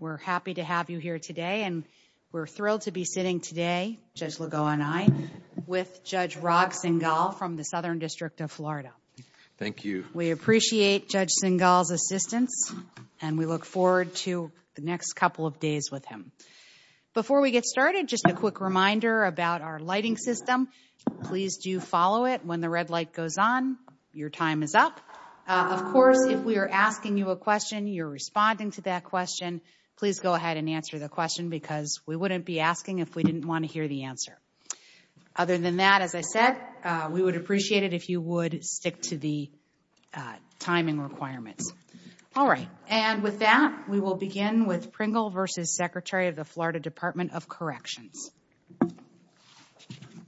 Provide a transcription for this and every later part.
We're happy to have you here today and we're thrilled to be sitting today, Judge Legault and I, with Judge Ragh Singhal from the Southern District of Florida. Thank you. We appreciate Judge Singhal's assistance and we look forward to the next couple of days with him. Before we get started, just a quick reminder about our lighting system. Please do follow it when the red light goes on. Your time is up. Of course, if we are asking you a question, you're responding to that question, please go ahead and answer the question because we wouldn't be asking if we didn't want to hear the answer. Other than that, as I said, we would appreciate it if you would stick to the timing requirements. All right. And with that, we will begin with Pringle v. Secretary of the Florida Department of Corrections. Thomas Duffy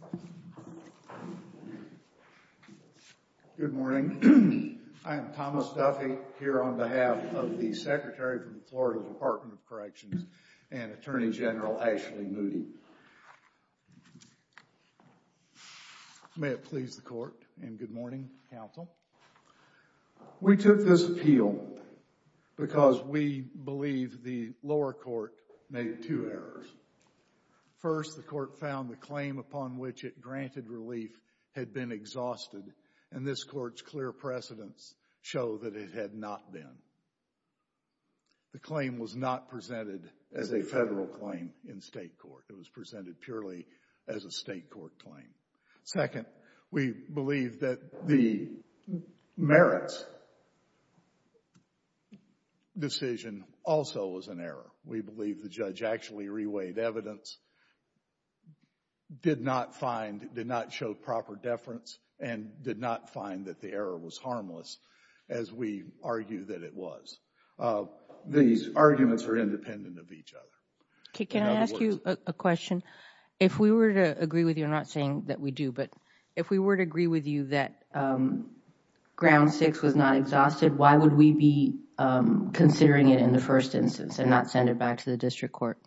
Good morning. I am Thomas Duffy here on behalf of the Secretary of the Florida Department of Corrections and Attorney General Ashley Moody. May it please the Court and good morning, Counsel. We took this appeal because we believe the lower court made two errors. First, the court found the claim upon which it granted relief had been exhausted and this court's clear precedents show that it had not been. The claim was not presented as a federal claim in state court. It was presented purely as a state court claim. Second, we believe that the merits decision also was an error. We believe the judge actually reweighed evidence, did not find, did not show proper deference, and did not find that the error was harmless as we argue that it was. These arguments are independent of each other. Can I ask you a question? If we were to agree with you, I'm not saying that we do, but if we were to agree with you that ground six was not exhausted, why would we be considering it in the first instance and not send it back to the district court?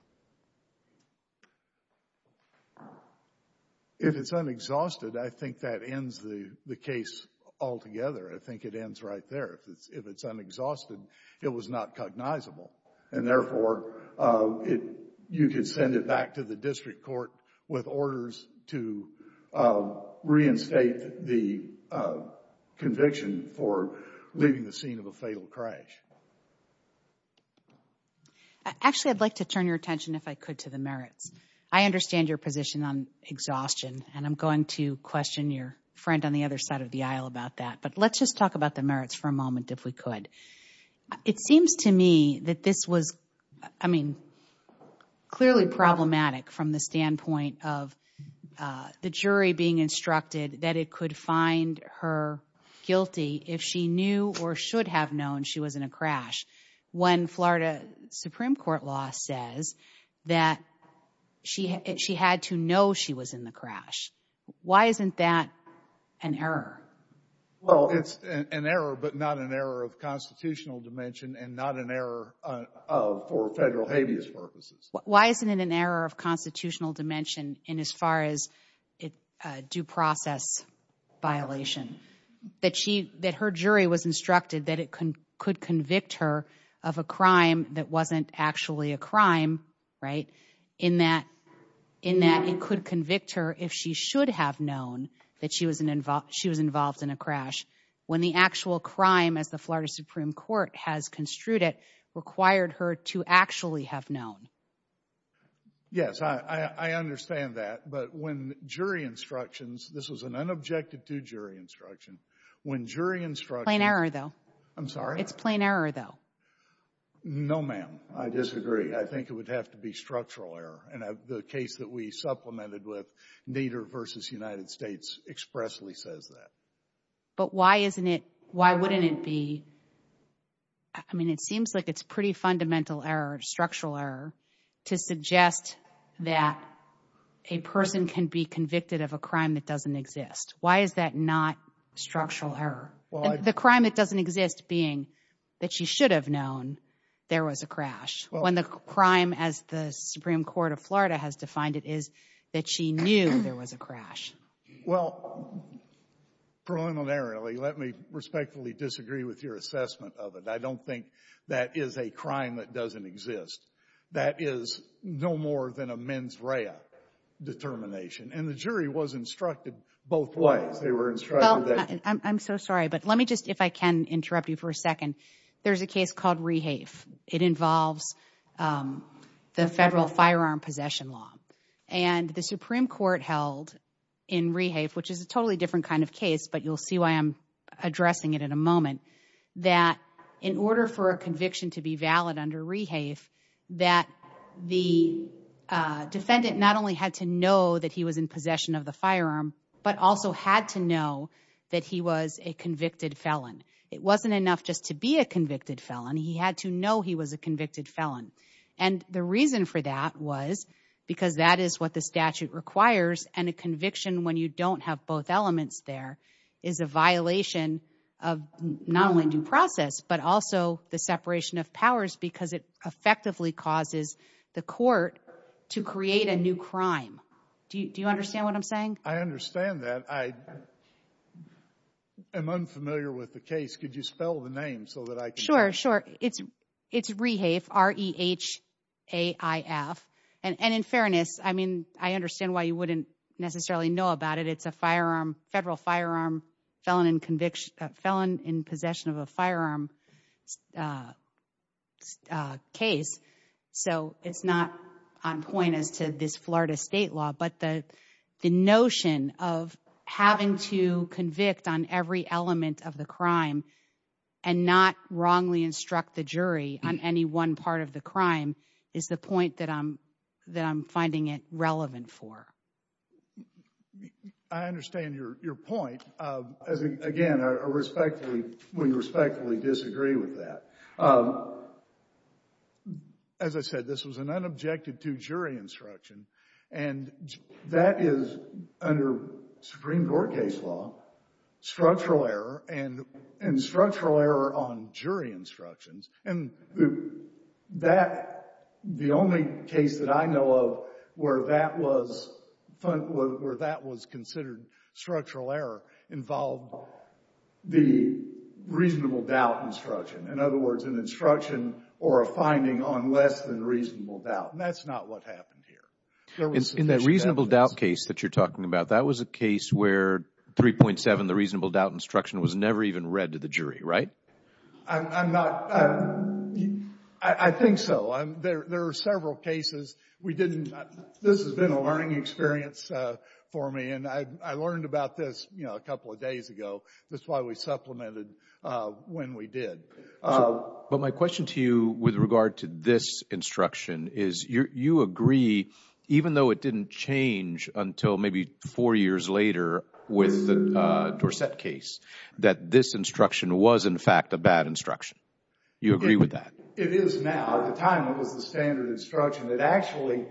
If it's unexhausted, I think that ends the case altogether. I think it ends right there. If it's unexhausted, it was not cognizable and therefore, you could send it back to the district court with orders to reinstate the conviction for leaving the scene of a fatal crash. Actually, I'd like to turn your attention, if I could, to the merits. I understand your position on exhaustion, and I'm going to question your friend on the other side of the aisle about that, but let's just talk about the merits for a moment, if we could. It seems to me that this was, I mean, clearly problematic from the standpoint of the jury being instructed that it could find her guilty if she knew or should have known she was in a crash when Florida Supreme Court law says that she had to know she was in the crash. Why isn't that an error? Well, it's an error, but not an error of constitutional dimension and not an error for federal habeas purposes. Why isn't it an error of constitutional dimension in as far as a due process violation? That her jury was instructed that it could convict her of a crime that wasn't actually a crime, right, in that it could convict her if she should have known that she was involved in a crash when the actual crime, as the Florida Supreme Court has construed it, required her to actually have known. Yes, I understand that, but when jury instructions, this was an unobjective to jury instruction, when jury instruction... Plain error, though. I'm sorry? It's plain error, though. No, ma'am. I disagree. I think it would have to be structural error, and the case that we supplemented with Nader versus United States expressly says that. But why isn't it, why wouldn't it be? I mean, it seems like it's pretty fundamental error, structural error, to suggest that a person can be convicted of a crime that doesn't exist. Why is that not structural error? The crime that doesn't exist being that she should have known there was a crash when the crime, as the Supreme Court of Florida has defined it, is that she knew there was a crash. Well, preliminarily, let me respectfully disagree with your assessment of it. I don't think that is a crime that doesn't exist. That is no more than a mens rea determination, and the jury was instructed both ways. They were instructed that... I'm so sorry, but let me just, if I can interrupt you for a second. There's a case called Rehafe. It involves the federal firearm possession law, and the Supreme Court held in Rehafe, which is a totally different kind of case, but you'll see why I'm addressing it in a moment, that in order for a conviction to be valid under Rehafe, that the defendant not only had to know that he was in possession of the firearm, but also had to know that he was a convicted felon. It wasn't enough just to be a convicted felon. He had to know he was a convicted felon. The reason for that was because that is what the statute requires, and a conviction when you don't have both elements there is a violation of not only due process, but also the separation of powers because it effectively causes the court to create a new crime. Do you understand what I'm saying? I understand that. I am unfamiliar with the case. Could you spell the name so that I can... Sure, sure. It's Rehafe, R-E-H-A-I-F, and in fairness, I understand why you wouldn't necessarily know about it. It's a federal firearm felon in possession of a firearm case, so it's not on point as to this Florida state law, but the notion of having to convict on every element of the crime and not wrongly instruct the jury on any one part of the crime is the point that I'm finding it relevant for. I understand your point. Again, we respectfully disagree with that. As I said, this was an unobjected to jury instruction, and that is under Supreme Court case law, structural error, and structural error on jury instructions, and the only case that I know of where that was considered structural error involved the reasonable doubt instruction. In other words, an instruction or a finding on less than reasonable doubt, and that's not what happened here. In that reasonable doubt case that you're talking about, that was a case where 3.7, the reasonable doubt instruction, was never even read to the jury, right? I'm not... I think so. There are several cases we didn't... This has been a learning experience for me, and I learned about this a couple of days ago. That's why we supplemented when we did. But my question to you with regard to this instruction is you agree, even though it didn't change until maybe four years later with the Dorsett case, that this instruction was, in fact, a bad instruction. You agree with that? It is now. At the time, it was the standard instruction that actually...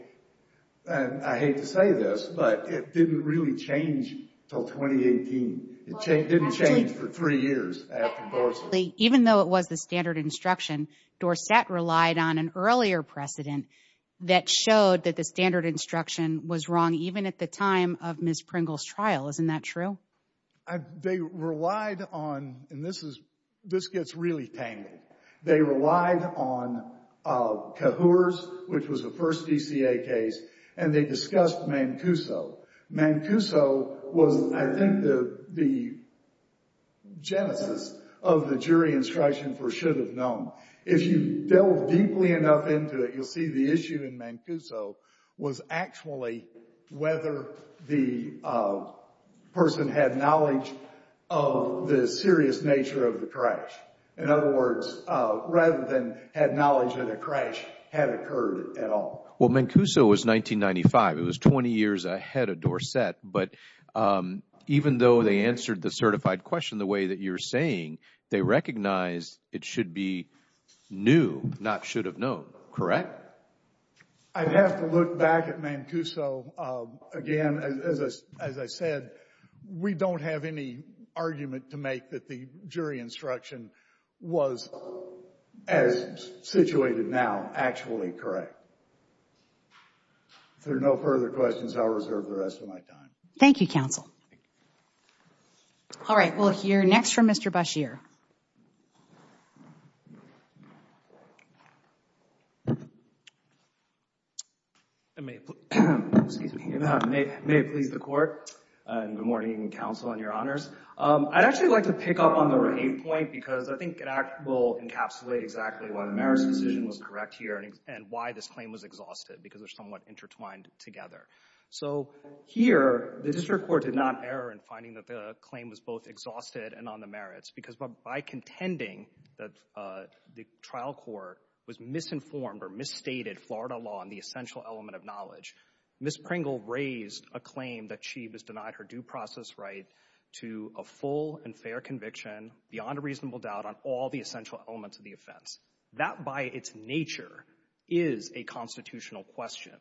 I hate to say this, but it didn't really change until 2018. It didn't change for three years after Dorsett. Even though it was the standard instruction, Dorsett relied on an earlier precedent that showed that the standard instruction was wrong, even at the time of Ms. Pringle's trial. Isn't that true? They relied on... And this gets really tangled. They relied on Kahour's, which was the first DCA case, and they discussed Mancuso. Mancuso was, I think, the genesis of the jury instruction for should have known. If you delve deeply enough into it, you'll see the issue in Mancuso was actually whether the person had knowledge of the serious nature of the crash. In other words, rather than had knowledge that a crash had occurred at all. Well, Mancuso was 1995. It was 20 years ahead of Dorsett. But even though they answered the certified question the way that you're saying, they recognized it should be new, not should have known, correct? I'd have to look back at Mancuso again. As I said, we don't have any argument to make that the jury instruction was, as situated now, actually correct. If there are no further questions, I'll reserve the rest of my time. Thank you, counsel. Thank you. All right, we'll hear next from Mr. Bashir. May it please the court, and good morning, counsel, and your honors. I'd actually like to pick up on the rave point, because I think it will encapsulate exactly why the marriage decision was correct here, and why this claim was exhausted, because they're somewhat intertwined together. So here, the district court did not err in finding that the claim was both exhausted and on the merits, because by contending that the trial court was misinformed, or misstated Florida law on the essential element of knowledge, Ms. Pringle raised a claim that she was denied her due process right to a full and fair conviction, beyond a reasonable doubt, on all the essential elements of the offense. That, by its nature, is a constitutional question.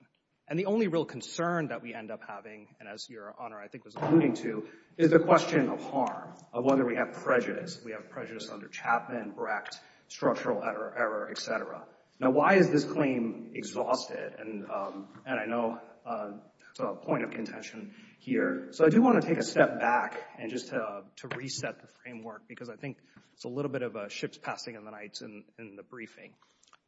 And the only real concern that we end up having, and as your honor, I think, was alluding to, is the question of harm, of whether we have prejudice. We have prejudice under Chapman, Brecht, structural error, et cetera. Now, why is this claim exhausted? And I know there's a point of contention here. So I do want to take a step back, and just to reset the framework, because I think it's a little bit of a ship's passing in the night in the briefing.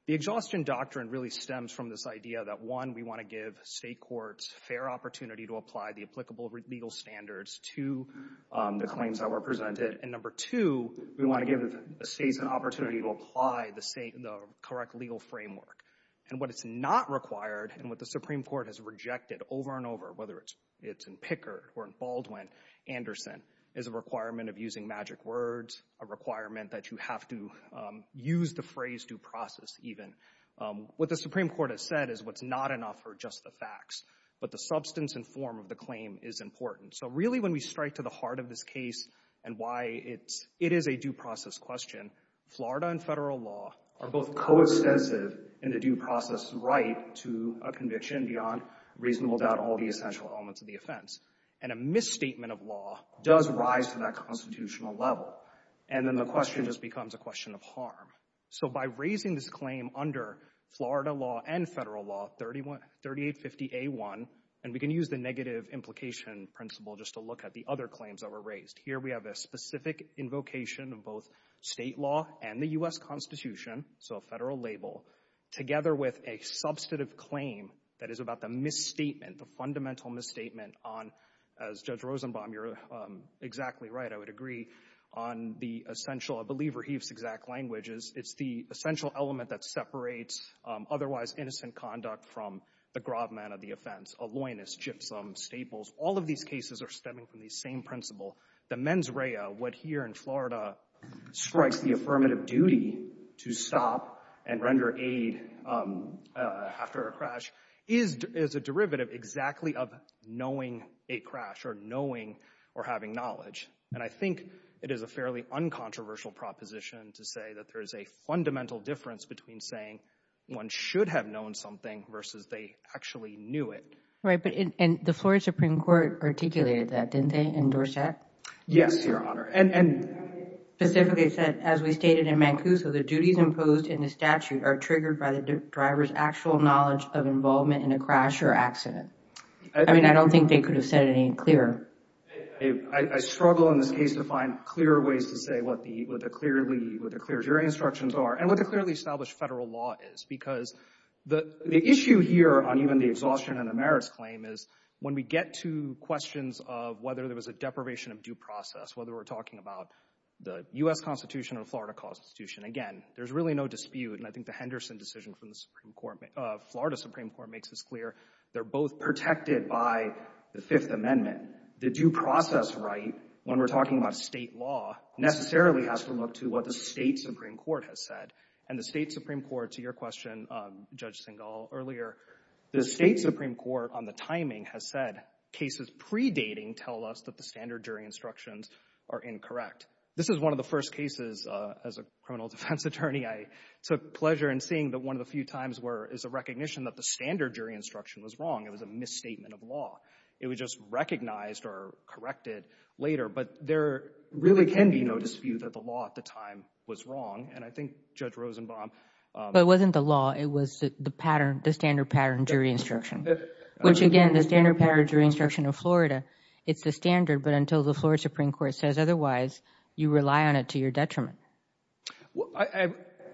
The exhaustion doctrine really stems from this idea that, one, we want to give state courts fair opportunity to apply the applicable legal standards to the claims that were presented. And number two, we want to give the states an opportunity to apply the correct legal framework. And what is not required, and what the Supreme Court has rejected over and over, whether it's in Pickard or in Baldwin, Anderson, is a requirement of using magic words, a requirement that you have to use the phrase due process, even. What the Supreme Court has said is what's not enough are just the facts, but the substance and form of the claim is important. So really, when we strike to the heart of this case, and why it is a due process question, Florida and federal law are both coextensive in the due process right to a conviction beyond reasonable doubt all the essential elements of the offense. And a misstatement of law does rise to that constitutional level. And then the question just becomes a question of harm. So by raising this claim under Florida law and federal law, 3850A1, and we can use the negative implication principle just to look at the other claims that were raised. Here we have a specific invocation of both state law and the U.S. Constitution, so a federal label, together with a substantive claim that is about the misstatement, the fundamental misstatement on, as Judge Rosenbaum, you're exactly right, I would agree, on the essential, I believe Rahib's exact language is, it's the essential element that separates otherwise innocent conduct from the grob man of the offense, a loinist, gypsum, staples. All of these cases are stemming from the same principle. The mens rea, what here in Florida strikes the affirmative duty to stop and render aid after a crash, is a derivative exactly of knowing a crash, or knowing or having knowledge. And I think it is a fairly uncontroversial proposition to say that there is a fundamental difference between saying one should have known something versus they actually knew it. Right, but the Florida Supreme Court articulated that, didn't they, in Dorset? Yes, Your Honor. And they specifically said, as we stated in Mancuso, the duties imposed in the statute are triggered by the driver's actual knowledge of involvement in a crash or accident. I mean, I don't think they could have said it any clearer. I struggle in this case to find clearer ways to say what the clear jury instructions are, and what the clearly established federal law is. Because the issue here on even the exhaustion and the merits claim is, when we get to questions of whether there was a deprivation of due process, whether we're talking about the U.S. Constitution or Florida Constitution, again, there's really no dispute. And I think the Henderson decision from the Supreme Court, Florida Supreme Court makes this clear. They're both protected by the Fifth Amendment. The due process right, when we're talking about state law, necessarily has to look to what the state Supreme Court has said. And the state Supreme Court, to your question, Judge Singal, earlier, the state Supreme Court on the timing has said cases predating tell us that the standard jury instructions are incorrect. This is one of the first cases, as a criminal defense attorney, I took pleasure in seeing that one of the few times is a recognition that the standard jury instruction was wrong. It was a misstatement of law. It was just recognized or corrected later. But there really can be no dispute that the law at the time was wrong. And I think Judge Rosenbaum— But it wasn't the law. It was the pattern, the standard pattern jury instruction. Which again, the standard pattern jury instruction of Florida, it's the standard. But until the Florida Supreme Court says otherwise, you rely on it to your detriment. Well,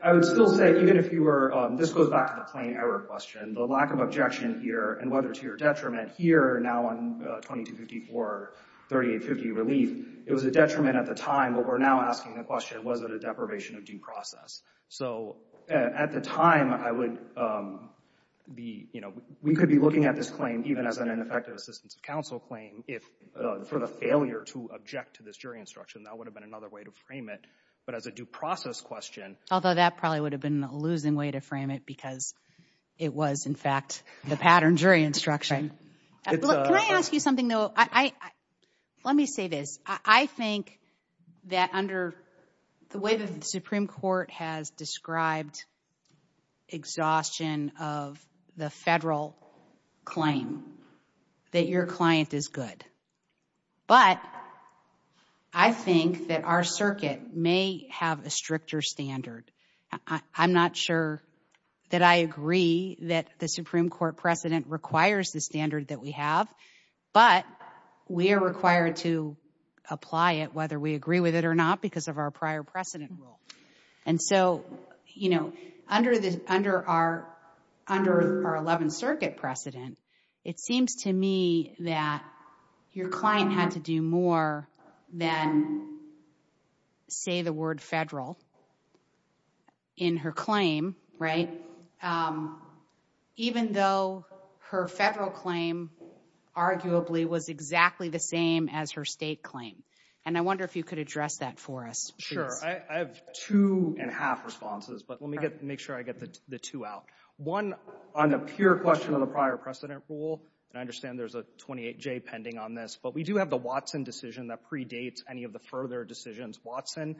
I would still say, even if you were— This goes back to the claim error question. The lack of objection here and whether to your detriment here, now on 2254, 3850 relief, it was a detriment at the time. But we're now asking the question, was it a deprivation of due process? So at the time, I would be, you know, we could be looking at this claim even as an ineffective assistance of counsel claim if for the failure to object to this jury instruction, that would have been another way to frame it. But as a due process question— Although that probably would have been a losing way to frame it because it was, in fact, the pattern jury instruction. Can I ask you something, though? Let me say this. I think that under the way that the Supreme Court has described exhaustion of the federal claim, that your client is good. But I think that our circuit may have a stricter standard. I'm not sure that I agree that the Supreme Court precedent requires the standard that we have, but we are required to apply it whether we agree with it or not because of our prior precedent rule. And so, you know, under our 11th Circuit precedent, it seems to me that your client had to do more than say the word federal in her claim, right? Even though her federal claim arguably was exactly the same as her state claim. And I wonder if you could address that for us. Sure. I have two and a half responses, but let me make sure I get the two out. One, on the pure question of the prior precedent rule, and I understand there's a 28-J pending on this, but we do have the Watson decision that predates any of the further decisions. Watson,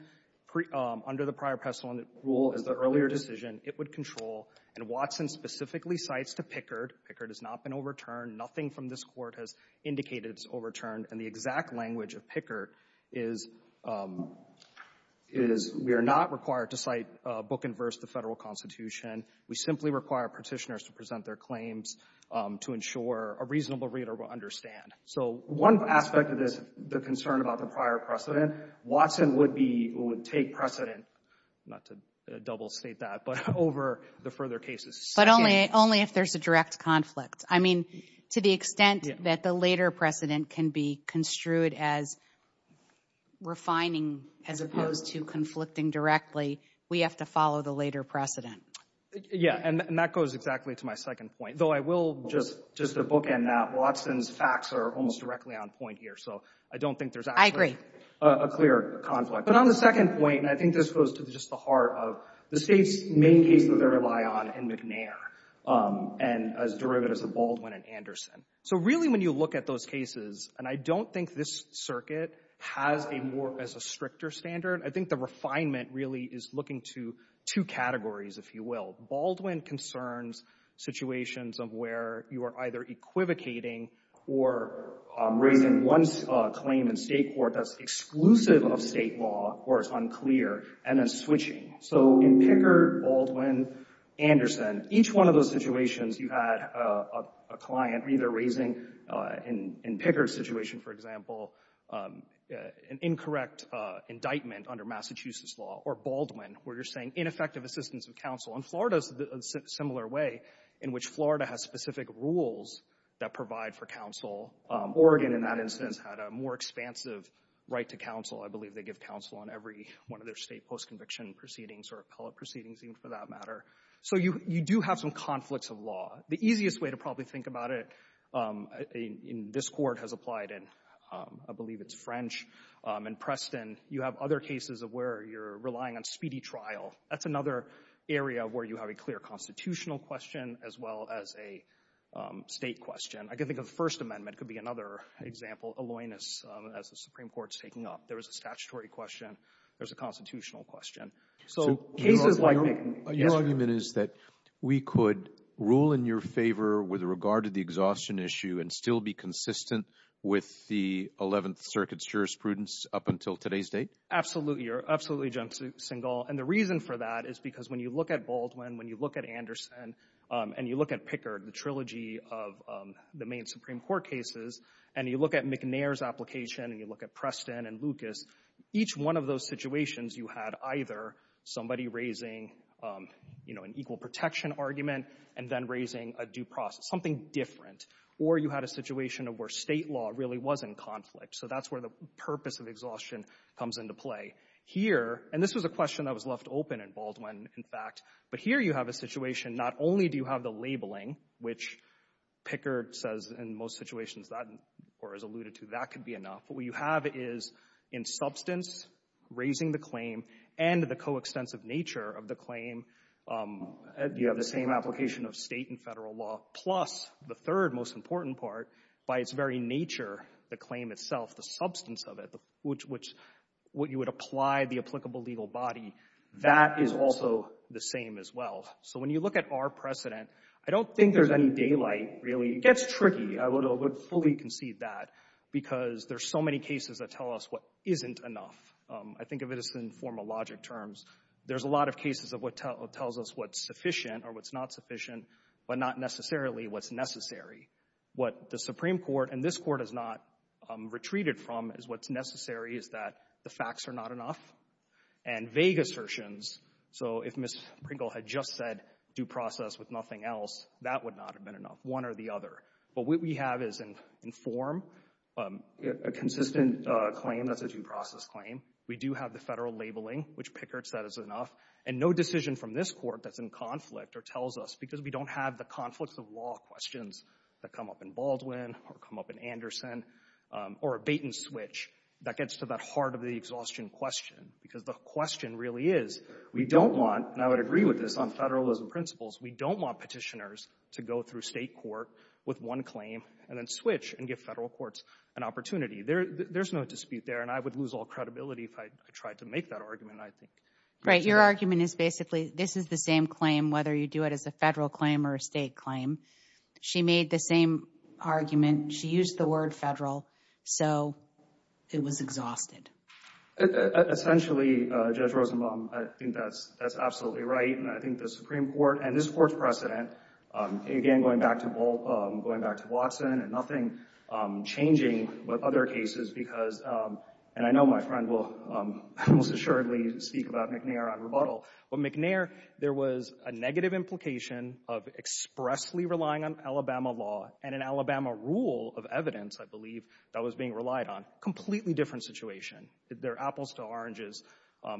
under the prior precedent rule, is the earlier decision it would control. And Watson specifically cites to Pickard. Pickard has not been overturned. Nothing from this court has indicated it's overturned. And the exact language of Pickard is, we are not required to cite book-inverse the federal constitution. We simply require petitioners to present their claims to ensure a reasonable reader will understand. So one aspect of this, the concern about the prior precedent, Watson would take precedent, not to double state that, but over the further cases. But only if there's a direct conflict. I mean, to the extent that the later precedent can be construed as refining as opposed to conflicting directly, we have to follow the later precedent. Yeah, and that goes exactly to my second point. Though I will just book-in that Watson's facts are almost directly on point here. So I don't think there's actually a clear conflict. But on the second point, and I think this goes to just the heart of the state's main cases that they rely on in McNair and as derivatives of Baldwin and Anderson. So really when you look at those cases, and I don't think this circuit has a more, as a stricter standard, I think the refinement really is looking to two categories, if you will. Baldwin concerns situations of where you are either equivocating or raising one claim in state court that's exclusive of state law or is unclear and then switching. So in Pickard, Baldwin, Anderson, each one of those situations, you had a client either raising in Pickard's situation, for example, an incorrect indictment under Massachusetts law or Baldwin, where you're saying ineffective assistance of counsel. And Florida's a similar way in which Florida has specific rules that provide for counsel. Oregon, in that instance, had a more expansive right to counsel. I believe they give counsel on every one of their state post-conviction proceedings or appellate proceedings, even for that matter. So you do have some conflicts of law. The easiest way to probably think about it in this court has applied in, I believe it's French and Preston. You have other cases of where you're relying on speedy trial. That's another area where you have a clear constitutional question as well as a state question. I can think of the First Amendment could be another example, alloyness, as the Supreme Court's taking up. There was a statutory question. There's a constitutional question. So cases like- So your argument is that we could rule in your favor with regard to the exhaustion issue and still be consistent with the 11th Circuit's jurisprudence up until today's date? Absolutely. You're absolutely, Jim Singal. And the reason for that is because when you look at Baldwin, when you look at Anderson, and you look at Pickard, the trilogy of the main Supreme Court cases, and you look at McNair's application, and you look at Preston and Lucas, each one of those situations, you had either somebody raising an equal protection argument and then raising a due process, something different. Or you had a situation of where state law really was in conflict. So that's where the purpose of exhaustion comes into play. Here, and this was a question that was left open in Baldwin, in fact. But here you have a situation, not only do you have the labeling, which Pickard says in most situations that, or has alluded to, that could be enough. But what you have is, in substance, raising the claim and the coextensive nature of the claim, you have the same application of state and federal law, plus the third most important part, by its very nature, the claim itself, the substance of it, which what you would apply the applicable legal body, that is also the same as well. So when you look at our precedent, I don't think there's any daylight, really. It gets tricky. I would fully concede that because there's so many cases that tell us what isn't enough. I think of it as in formal logic terms. There's a lot of cases of what tells us what's sufficient or what's not sufficient, but not necessarily what's necessary. What the Supreme Court, and this court has not retreated from, is what's necessary is that the facts are not enough. And vague assertions, so if Ms. Pringle had just said due process with nothing else, that would not have been enough, one or the other. But what we have is in form, a consistent claim that's a due process claim. We do have the federal labeling, which Pickard said is enough. And no decision from this court that's in conflict or tells us, because we don't have the conflicts of law questions that come up in Baldwin or come up in Anderson or a bait and switch that gets to that heart of the exhaustion question. Because the question really is, we don't want, and I would agree with this on federalism principles, we don't want petitioners to go through state court with one claim and then switch and give federal courts an opportunity. There's no dispute there. And I would lose all credibility if I tried to make that argument, I think. Right, your argument is basically this is the same claim, whether you do it as a federal claim or a state claim. She made the same argument. She used the word federal. So it was exhausted. Essentially, Judge Rosenbaum, I think that's absolutely right. And I think the Supreme Court and this court's precedent, again, going back to Bolt, going back to Watson and nothing changing with other cases because, and I know my friend will most assuredly speak about McNair on rebuttal, but McNair, there was a negative implication of expressly relying on Alabama law and an Alabama rule of evidence, I believe, that was being relied on. Completely different situation. They're apples to oranges.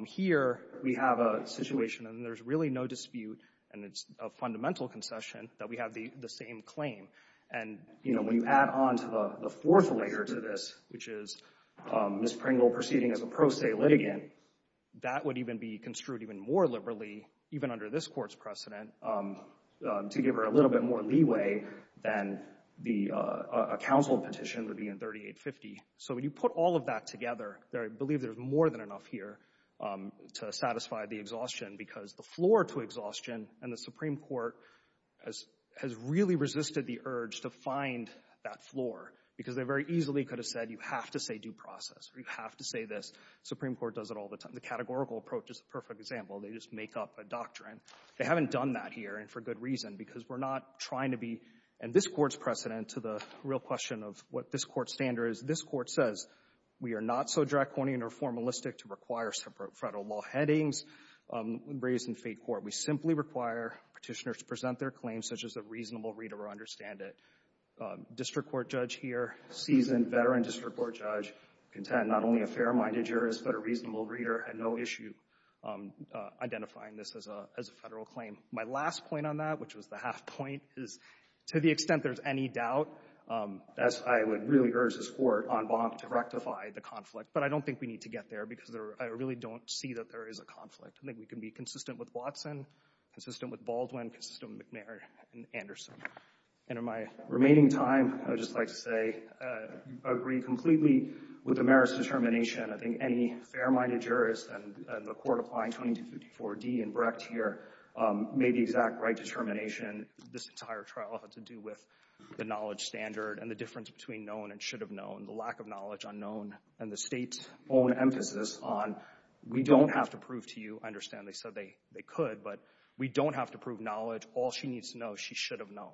Here, we have a situation and there's really no dispute and it's a fundamental concession that we have the same claim. And when you add on to the fourth layer to this, which is Ms. Pringle proceeding as a pro se litigant, that would even be construed even more liberally, even under this court's precedent, to give her a little bit more leeway than a counsel petition would be in 3850. So when you put all of that together, I believe there's more than enough here to satisfy the exhaustion because the floor to exhaustion and the Supreme Court has really resisted the urge to find that floor because they very easily could have said, you have to say due process or you have to say this. Supreme Court does it all the time. The categorical approach is the perfect example. They just make up a doctrine. They haven't done that here and for good reason because we're not trying to be in this court's precedent to the real question of what this court standard is. This court says, we are not so draconian or formalistic to require separate federal law headings raised in fate court. We simply require petitioners to present their claims such as a reasonable reader or understand it. District court judge here, seasoned veteran district court judge, content not only a fair-minded jurist but a reasonable reader at no issue identifying this as a federal claim. My last point on that, which was the half point, is to the extent there's any doubt, that's why I would really urge this court on bond to rectify the conflict. But I don't think we need to get there because I really don't see that there is a conflict. I think we can be consistent with Watson, consistent with Baldwin, consistent with McNair and Anderson. And in my remaining time, I would just like to say, agree completely with the mayor's determination. I think any fair-minded jurist and the court applying 2254D and Brecht here made the exact right determination. This entire trial had to do with the knowledge standard and the difference between known and should have known, the lack of knowledge unknown and the state's own emphasis on we don't have to prove to you. I understand they said they could, but we don't have to prove knowledge. All she needs to know, she should have known.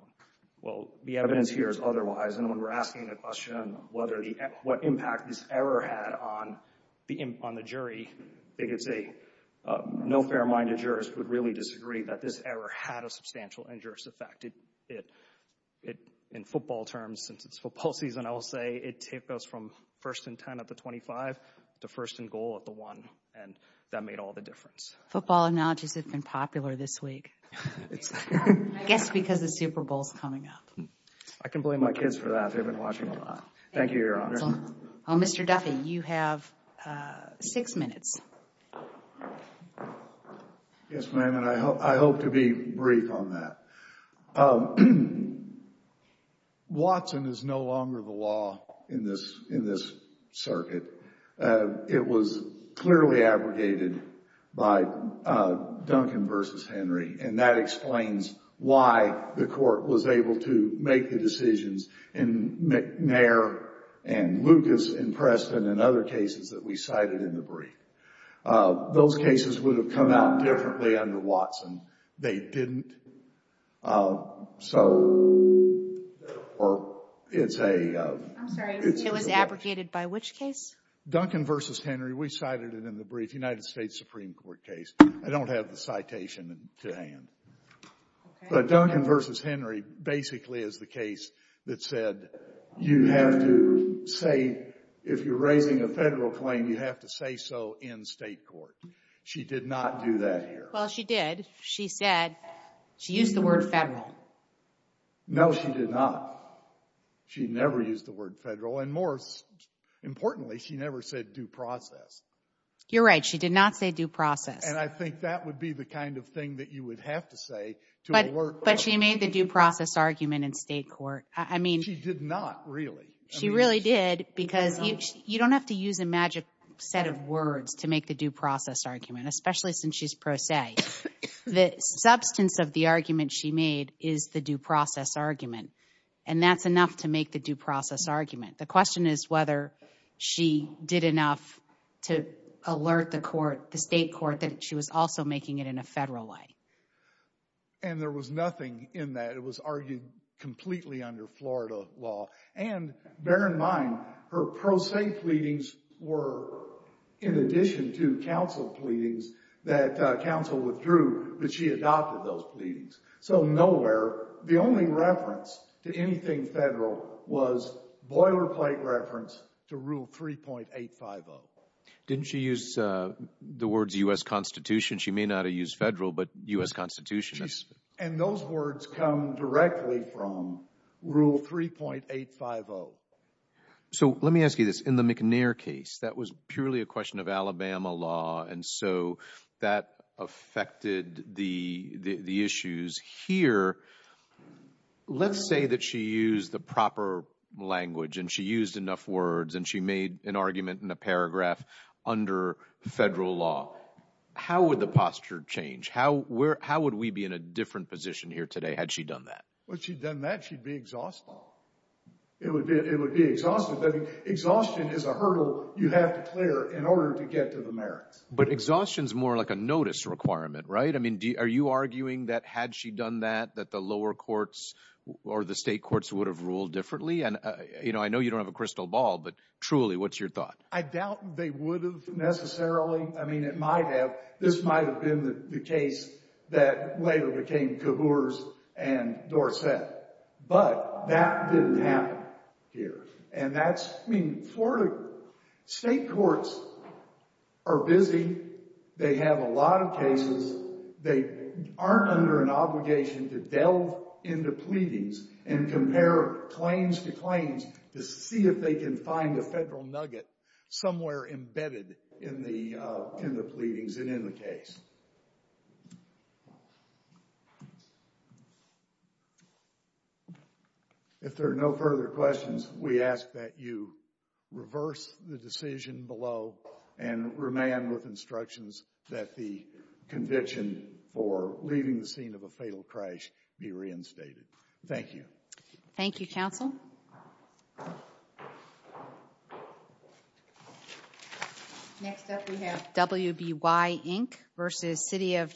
Well, the evidence here is otherwise. And when we're asking the question what impact this error had on the jury, no fair-minded jurist would really disagree that this error had a substantial injurious effect. In football terms, since it's football season, I will say it took us from first and 10 at the 25 to first and goal at the one. And that made all the difference. Football analogies have been popular this week. I guess because the Super Bowl's coming up. I can blame my kids for that. They've been watching a lot. Thank you, Your Honor. Mr. Duffy, you have six minutes. Yes, ma'am. And I hope to be brief on that. Watson is no longer the law in this circuit. It was clearly abrogated by Duncan versus Henry. And that explains why the court was able to make the decisions and other cases that we cited in the brief. Those cases would have come out differently under Watson. They didn't. So it's a... I'm sorry. It was abrogated by which case? Duncan versus Henry. We cited it in the brief. United States Supreme Court case. I don't have the citation to hand. But Duncan versus Henry basically is the case that said you have to say if you're raising a federal claim, you have to say so in state court. She did not do that here. Well, she did. She said... She used the word federal. No, she did not. She never used the word federal. And more importantly, she never said due process. You're right. She did not say due process. And I think that would be the kind of thing that you would have to say to alert... But she made the due process argument in state court. I mean... She did not, really. She really did because you don't have to use a magic set of words to make the due process argument, especially since she's pro se. The substance of the argument she made is the due process argument. And that's enough to make the due process argument. The question is whether she did enough to alert the court, the state court, that she was also making it in a federal way. And there was nothing in that. It was argued completely under Florida law. And bear in mind, her pro se pleadings were in addition to council pleadings that council withdrew, but she adopted those pleadings. So nowhere... The only reference to anything federal was boilerplate reference to Rule 3.850. Didn't she use the words U.S. Constitution? She may not have used federal, but U.S. Constitution. And those words come directly from Rule 3.850. So let me ask you this. In the McNair case, that was purely a question of Alabama law. And so that affected the issues here. Let's say that she used the proper language and she used enough words and she made an argument in a paragraph under federal law. How would the posture change? How would we be in a different position here today had she done that? Once she'd done that, she'd be exhausted. It would be exhausted. But exhaustion is a hurdle you have to clear in order to get to the merits. But exhaustion's more like a notice requirement, right? I mean, are you arguing that had she done that, that the lower courts or the state courts would have ruled differently? And, you know, I know you don't have a crystal ball, but truly, what's your thought? I doubt they would have necessarily. I mean, it might have. This might've been the case that later became Cabours and Dorsett. But that didn't happen here. And that's, I mean, Florida state courts are busy. They have a lot of cases. They aren't under an obligation to delve into pleadings and compare claims to claims to see if they can find a federal nugget somewhere embedded in the pleadings and in the case. So, if there are no further questions, we ask that you reverse the decision below and remain with instructions that the conviction for leaving the scene of a fatal crash be reinstated. Thank you. Thank you, counsel. Next up, we have WBY Inc. versus City of